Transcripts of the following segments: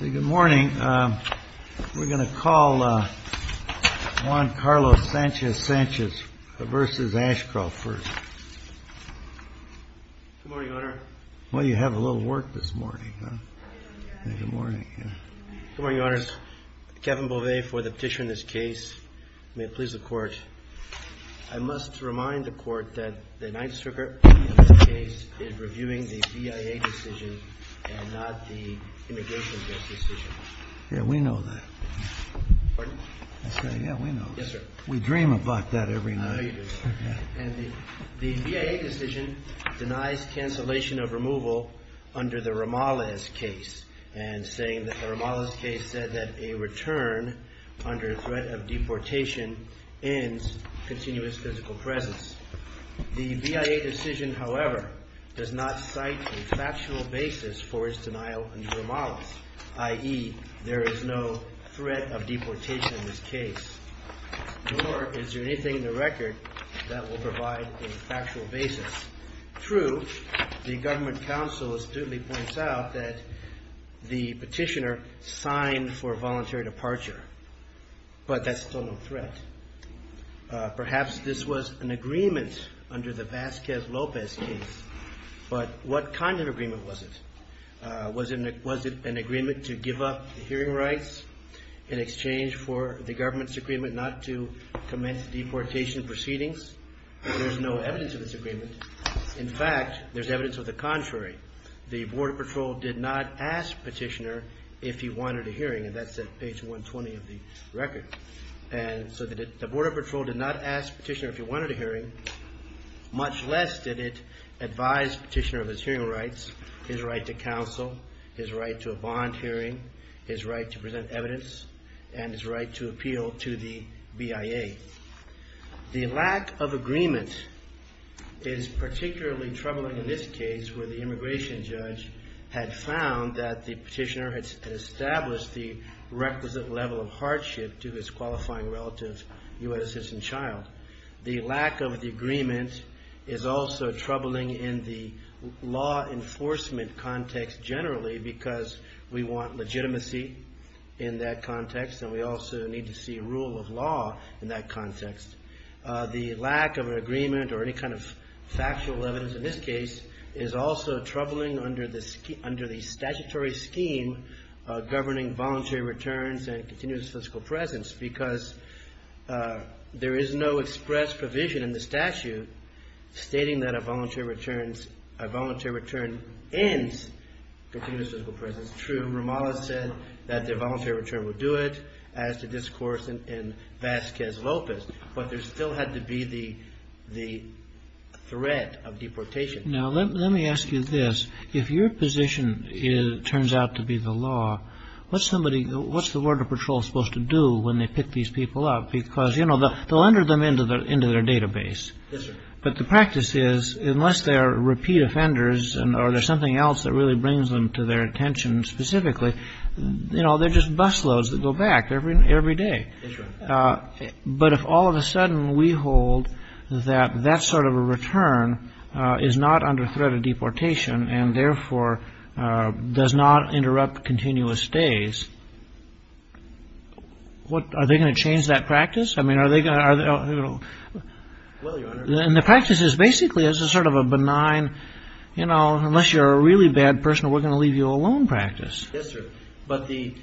Good morning. We're going to call Juan Carlos Sanchez Sanchez v. Ashcroft first. Good morning, Your Honor. Well, you have a little work this morning. Good morning, Your Honor. Good morning, Your Honors. Kevin Bovet for the petition in this case. May it please the Court. I must remind the Court that the Ninth Circuit in this case is reviewing the BIA decision and not the immigration judge decision. Yeah, we know that. Pardon? Yeah, we know that. Yes, sir. We dream about that every night. I know you do. And the BIA decision denies cancellation of removal under the Ramales case and saying that the Ramales case said that a return under threat of deportation ends continuous physical presence. The BIA decision, however, does not cite a factual basis for its denial under the Ramales, i.e., there is no threat of deportation in this case, nor is there anything in the record that will provide a factual basis. True, the government counsel astutely points out that the petitioner signed for voluntary departure, but that's still no threat. Perhaps this was an agreement under the Vasquez-Lopez case, but what kind of agreement was it? Was it an agreement to give up hearing rights in exchange for the government's agreement not to commence deportation proceedings? There's no evidence of this agreement. In fact, there's evidence of the contrary. The Border Patrol did not ask the petitioner if he wanted a hearing, and that's at page 120 of the record. And so the Border Patrol did not ask the petitioner if he wanted a hearing, much less did it advise the petitioner of his hearing rights, his right to counsel, his right to a bond hearing, his right to present evidence, and his right to appeal to the BIA. The lack of agreement is particularly troubling in this case, where the immigration judge had found that the petitioner had established the requisite level of hardship to his qualifying relative who had a citizen child. The lack of the agreement is also troubling in the law enforcement context generally, because we want legitimacy in that context, and we also need to see rule of law in that context. The lack of an agreement or any kind of factual evidence in this case is also troubling under the statutory scheme governing voluntary returns and continuous physical presence, because there is no express provision in the statute stating that a voluntary return ends continuous physical presence. That's true. Ramallah said that the voluntary return would do it, as the discourse in Vasquez Lopez, but there still had to be the threat of deportation. Now, let me ask you this. If your position turns out to be the law, what's the Border Patrol supposed to do when they pick these people up? Because, you know, they'll enter them into their database. But the practice is, unless they're repeat offenders or there's something else that really brings them to their attention specifically, you know, they're just busloads that go back every day. That's true. But if all of a sudden we hold that that sort of a return is not under threat of deportation and therefore does not interrupt continuous stays, what, are they going to change that practice? I mean, are they going to? Well, Your Honor. And the practice is basically as a sort of a benign, you know, unless you're a really bad person, we're going to leave you alone practice. Yes, sir. But the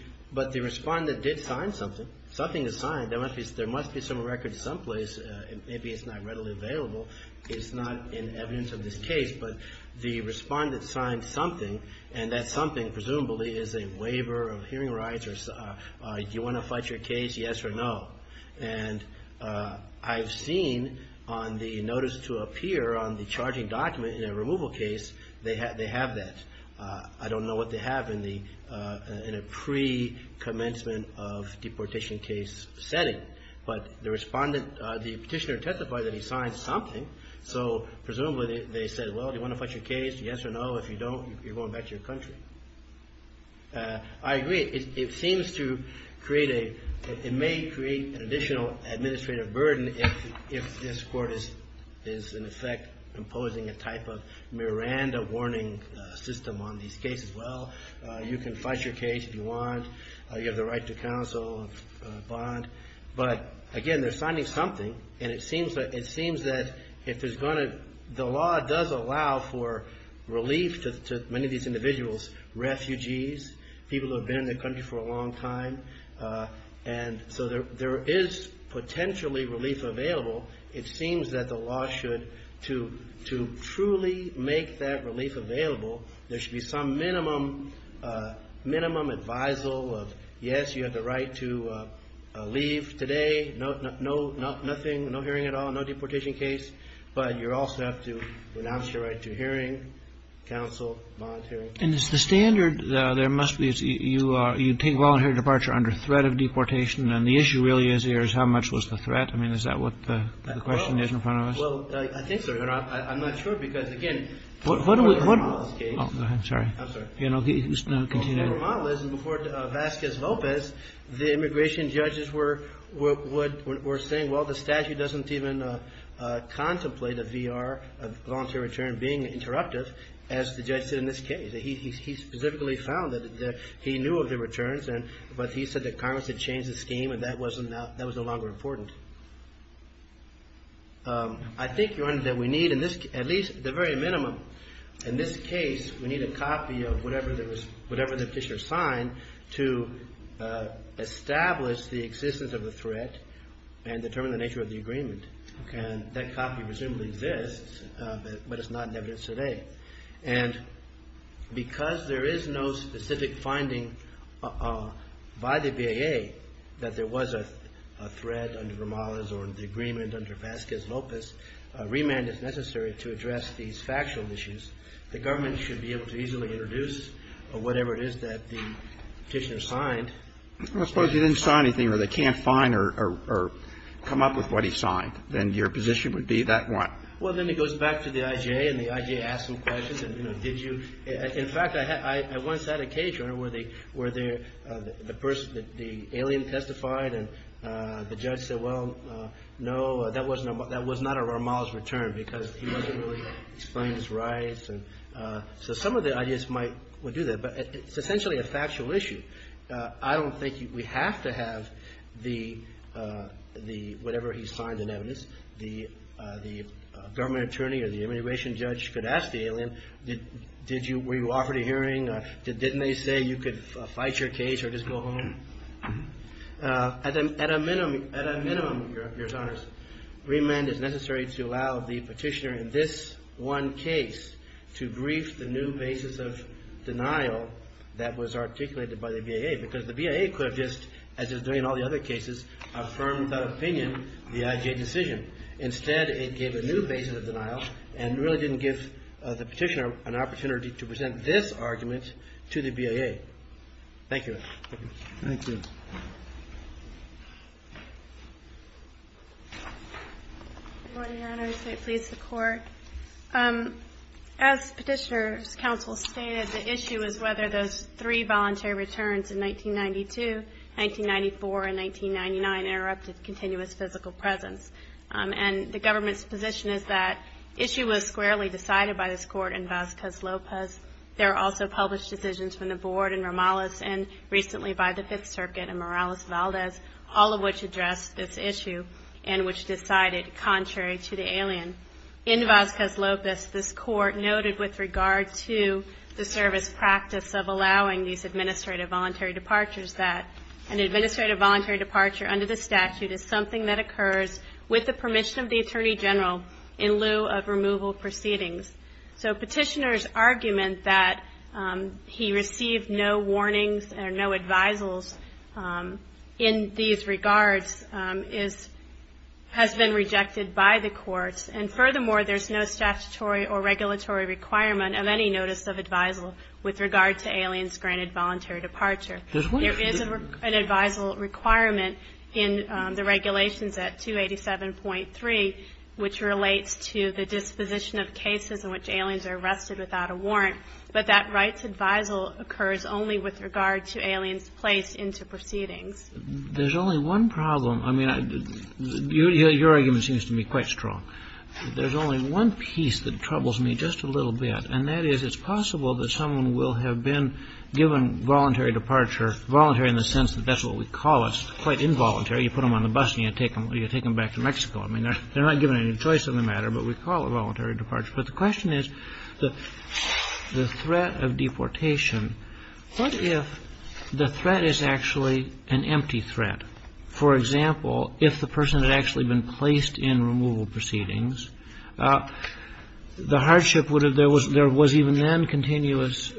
respondent did sign something. Something is signed. There must be some record someplace. Maybe it's not readily available. It's not in evidence of this case. But the respondent signed something, and that something presumably is a waiver of hearing rights or you want to fight your case, yes or no. And I've seen on the notice to appear on the charging document in a removal case, they have that. I don't know what they have in a pre-commencement of deportation case setting. But the respondent, the petitioner testified that he signed something. So presumably they said, well, do you want to fight your case, yes or no? If you don't, you're going back to your country. I agree. It seems to create a, it may create an additional administrative burden if this Court is in effect imposing a type of Miranda warning system on these cases. Well, you can fight your case if you want. You have the right to counsel, bond. But again, they're signing something, and it seems that if there's going to, the law does allow for relief to many of these individuals. Refugees, people who have been in the country for a long time. And so there is potentially relief available. It seems that the law should, to truly make that relief available, there should be some minimum, minimum advisal of yes, you have the right to leave today. No, nothing, no hearing at all, no deportation case. But you also have to renounce your right to hearing, counsel, bond, hearing. And is the standard, there must be, you take voluntary departure under threat of deportation, and the issue really is here is how much was the threat? I mean, is that what the question is in front of us? Well, I think so. And I'm not sure, because, again, the federal model is case. I'm sorry. I'm sorry. The federal model is, and before Vasquez-Velpez, the immigration judges were saying, well, the statute doesn't even contemplate a VR, a voluntary return, being interruptive, as the judge said in this case. He specifically found that he knew of the returns, but he said that Congress had changed the scheme, and that was no longer important. I think, Your Honor, that we need, at least the very minimum, in this case, we need a copy of whatever the petitioner signed to establish the existence of the threat and determine the nature of the agreement. Okay. And that copy presumably exists, but it's not in evidence today. And because there is no specific finding by the BAA that there was a threat under Romales or the agreement under Vasquez-Velpez, remand is necessary to address these factual issues. The government should be able to easily introduce whatever it is that the petitioner signed. I suppose you didn't sign anything where they can't find or come up with what he signed. Then your position would be that one. Well, then he goes back to the IJA, and the IJA asks him questions, and, you know, did you? In fact, I once had a case, Your Honor, where the person, the alien testified, and the judge said, well, no, that was not a Romales return because he wasn't really explaining his rights. And so some of the ideas might do that. But it's essentially a factual issue. I don't think we have to have the whatever he signed in evidence. The government attorney or the immigration judge could ask the alien, did you? Were you offered a hearing? Didn't they say you could fight your case or just go home? At a minimum, Your Honor, remand is necessary to allow the petitioner in this one case to brief the new basis of denial that was articulated by the BIA because the BIA could have just, as is doing in all the other cases, affirmed the opinion, the IJA decision. Instead, it gave a new basis of denial and really didn't give the petitioner an opportunity to present this argument to the BIA. Thank you. Thank you. Good morning, Your Honor. I say please support. As petitioner's counsel stated, the issue is whether those three voluntary returns in 1992, 1994, and 1999 interrupted continuous physical presence. And the government's position is that issue was squarely decided by this court in Vazquez-Lopez. There are also published decisions from the board in Romales and recently by the Fifth Circuit in Morales-Valdez, all of which address this issue and which decided contrary to the alien. In Vazquez-Lopez, this court noted with regard to the service practice of allowing these administrative voluntary departures that an administrative voluntary departure under the statute is something that occurs with the permission of the Attorney General in lieu of removal proceedings. So petitioner's argument that he received no warnings or no advisals in these regards has been rejected by the courts. And furthermore, there's no statutory or regulatory requirement of any notice of advisal with regard to aliens granted voluntary departure. There is an advisal requirement in the regulations at 287.3, which relates to the disposition of cases in which aliens are arrested without a warrant. But that rights advisal occurs only with regard to aliens placed into proceedings. There's only one problem. I mean, your argument seems to me quite strong. There's only one piece that troubles me just a little bit, and that is it's possible that someone will have been given voluntary departure, voluntary in the sense that that's what we call us, quite involuntary. You put them on the bus and you take them back to Mexico. I mean, they're not given any choice in the matter, but we call it voluntary departure. But the question is, the threat of deportation, what if the threat is actually an empty threat? For example, if the person had actually been placed in removal proceedings, the hardship would have been there was even then continuous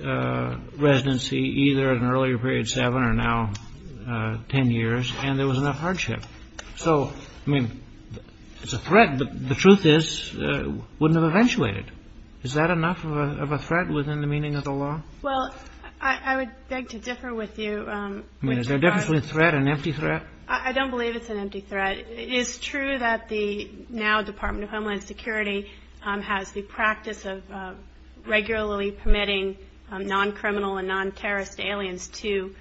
residency either at an earlier period, seven or now ten years, and there was enough hardship. So, I mean, it's a threat, but the truth is it wouldn't have eventuated. Is that enough of a threat within the meaning of the law? Well, I would beg to differ with you. I mean, is there a difference between a threat and an empty threat? I don't believe it's an empty threat. It is true that the now Department of Homeland Security has the practice of regularly permitting non-criminal and non-terrorist aliens to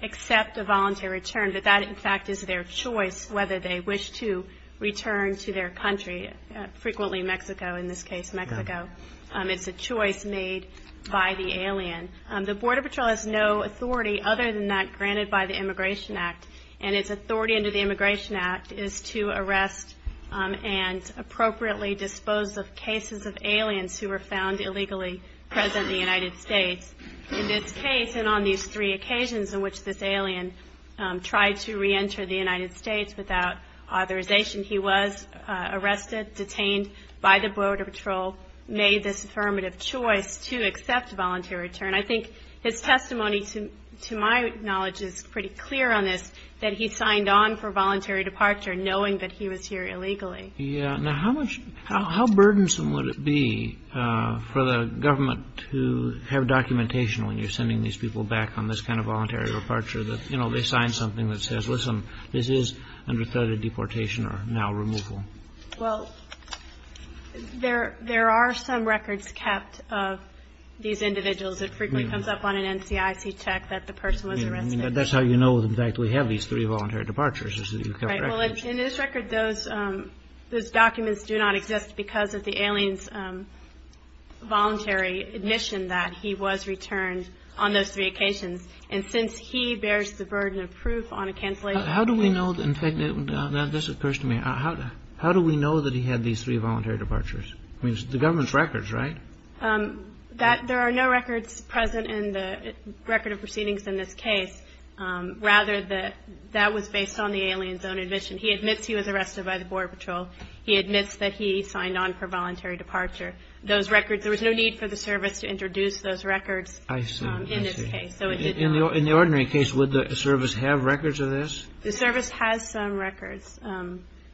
accept a voluntary return. But that, in fact, is their choice whether they wish to return to their country, frequently Mexico in this case, Mexico. It's a choice made by the alien. The Border Patrol has no authority other than that granted by the Immigration Act, and its authority under the Immigration Act is to arrest and appropriately dispose of cases of aliens who were found illegally present in the United States. In this case, and on these three occasions in which this alien tried to reenter the United States without authorization, he was arrested, detained by the Border Patrol, made this affirmative choice to accept a voluntary return. I think his testimony, to my knowledge, is pretty clear on this, that he signed on for voluntary departure knowing that he was here illegally. Yeah. Now, how burdensome would it be for the government to have documentation when you're sending these people back on this kind of voluntary departure that, you know, they sign something that says, listen, this is under threat of deportation or now removal? Well, there are some records kept of these individuals. It frequently comes up on an NCIC check that the person was arrested. That's how you know, in fact, we have these three voluntary departures is that you kept records. Well, in this record, those documents do not exist because of the alien's voluntary admission that he was returned on those three occasions. And since he bears the burden of proof on a cancellation. How do we know, in fact, this occurs to me, how do we know that he had these three voluntary departures? I mean, it's the government's records, right? There are no records present in the record of proceedings in this case. Rather, that was based on the alien's own admission. He admits he was arrested by the Border Patrol. He admits that he signed on for voluntary departure. Those records, there was no need for the service to introduce those records in this case. In the ordinary case, would the service have records of this? The service has some records.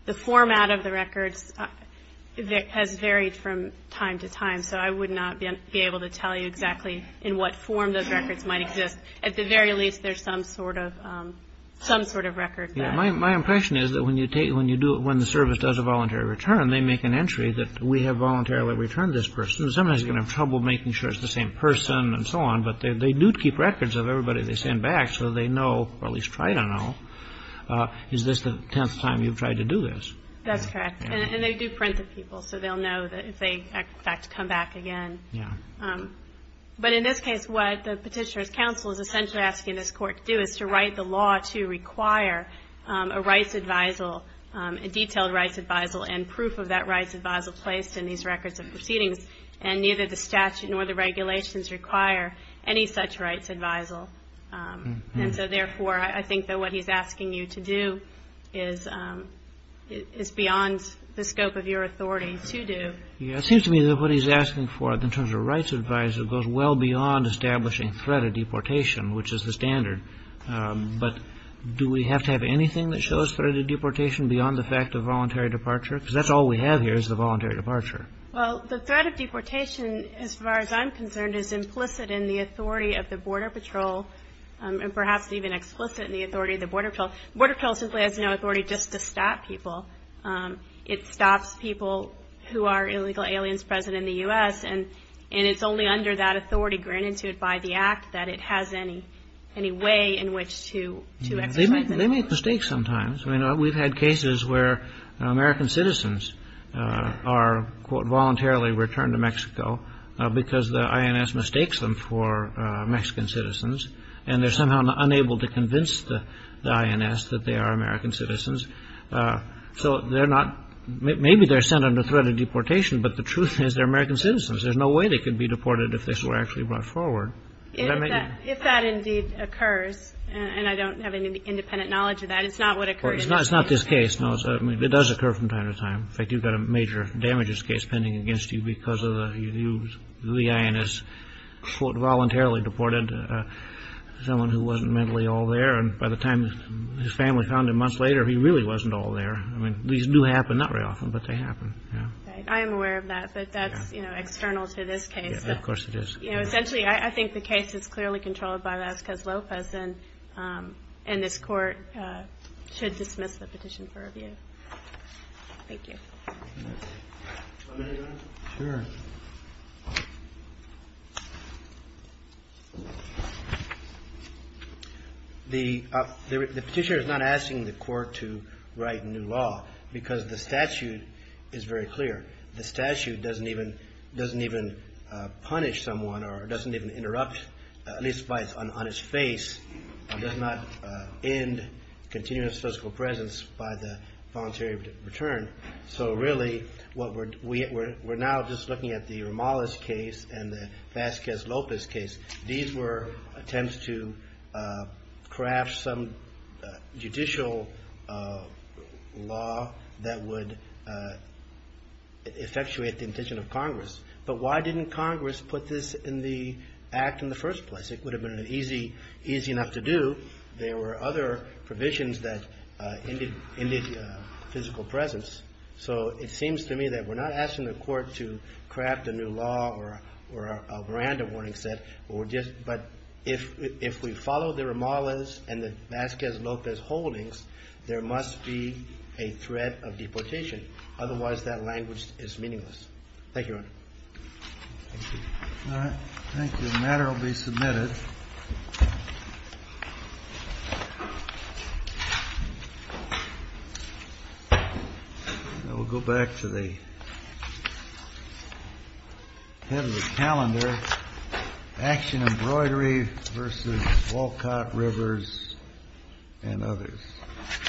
The format of the records has varied from time to time, so I would not be able to tell you exactly in what form those records might exist. But at the very least, there's some sort of record. My impression is that when the service does a voluntary return, they make an entry that we have voluntarily returned this person. Sometimes you're going to have trouble making sure it's the same person and so on, but they do keep records of everybody they send back so they know, or at least try to know, is this the tenth time you've tried to do this? That's correct. And they do print to people, so they'll know if they, in fact, come back again. But in this case, what the Petitioner's Counsel is essentially asking this Court to do is to write the law to require a rights advisal, a detailed rights advisal, and proof of that rights advisal placed in these records of proceedings. And neither the statute nor the regulations require any such rights advisal. And so, therefore, I think that what he's asking you to do is beyond the scope of your authority to do. Yeah, it seems to me that what he's asking for in terms of rights advisal goes well beyond establishing threat of deportation, which is the standard. But do we have to have anything that shows threat of deportation beyond the fact of voluntary departure? Because that's all we have here is the voluntary departure. Well, the threat of deportation, as far as I'm concerned, is implicit in the authority of the Border Patrol, and perhaps even explicit in the authority of the Border Patrol. The Border Patrol simply has no authority just to stop people. It stops people who are illegal aliens present in the U.S., and it's only under that authority granted to it by the Act that it has any way in which to exercise it. They make mistakes sometimes. I mean, we've had cases where American citizens are, quote, voluntarily returned to Mexico because the INS mistakes them for Mexican citizens, and they're somehow unable to convince the INS that they are American citizens. So maybe they're sent under threat of deportation, but the truth is they're American citizens. There's no way they could be deported if they were actually brought forward. If that indeed occurs, and I don't have any independent knowledge of that, it's not what occurred in Mexico. It's not this case. It does occur from time to time. In fact, you've got a major damages case pending against you because the INS, quote, voluntarily deported someone who wasn't mentally all there, and by the time his family found him a month later, he really wasn't all there. I mean, these do happen, not very often, but they happen. Right. I am aware of that, but that's external to this case. Of course it is. Essentially, I think the case is clearly controlled by Lascaz Lopez, and this Court should dismiss the petition for review. Thank you. One minute, Your Honor. Sure. The petitioner is not asking the Court to write new law because the statute is very clear. The statute doesn't even punish someone or doesn't even interrupt, at least on his face, does not end continuous physical presence by the voluntary return. So really, we're now just looking at the Romales case and the Lascaz Lopez case. These were attempts to craft some judicial law that would effectuate the intention of Congress. But why didn't Congress put this in the Act in the first place? It would have been easy enough to do. There were other provisions that ended physical presence. So it seems to me that we're not asking the Court to craft a new law or a random warning set, but if we follow the Romales and the Lascaz Lopez holdings, there must be a threat of deportation. Otherwise, that language is meaningless. Thank you, Your Honor. Thank you. All right. Thank you. The matter will be submitted. We'll go back to the head of the calendar, action embroidery versus Walcott, Rivers, and others. Thank you.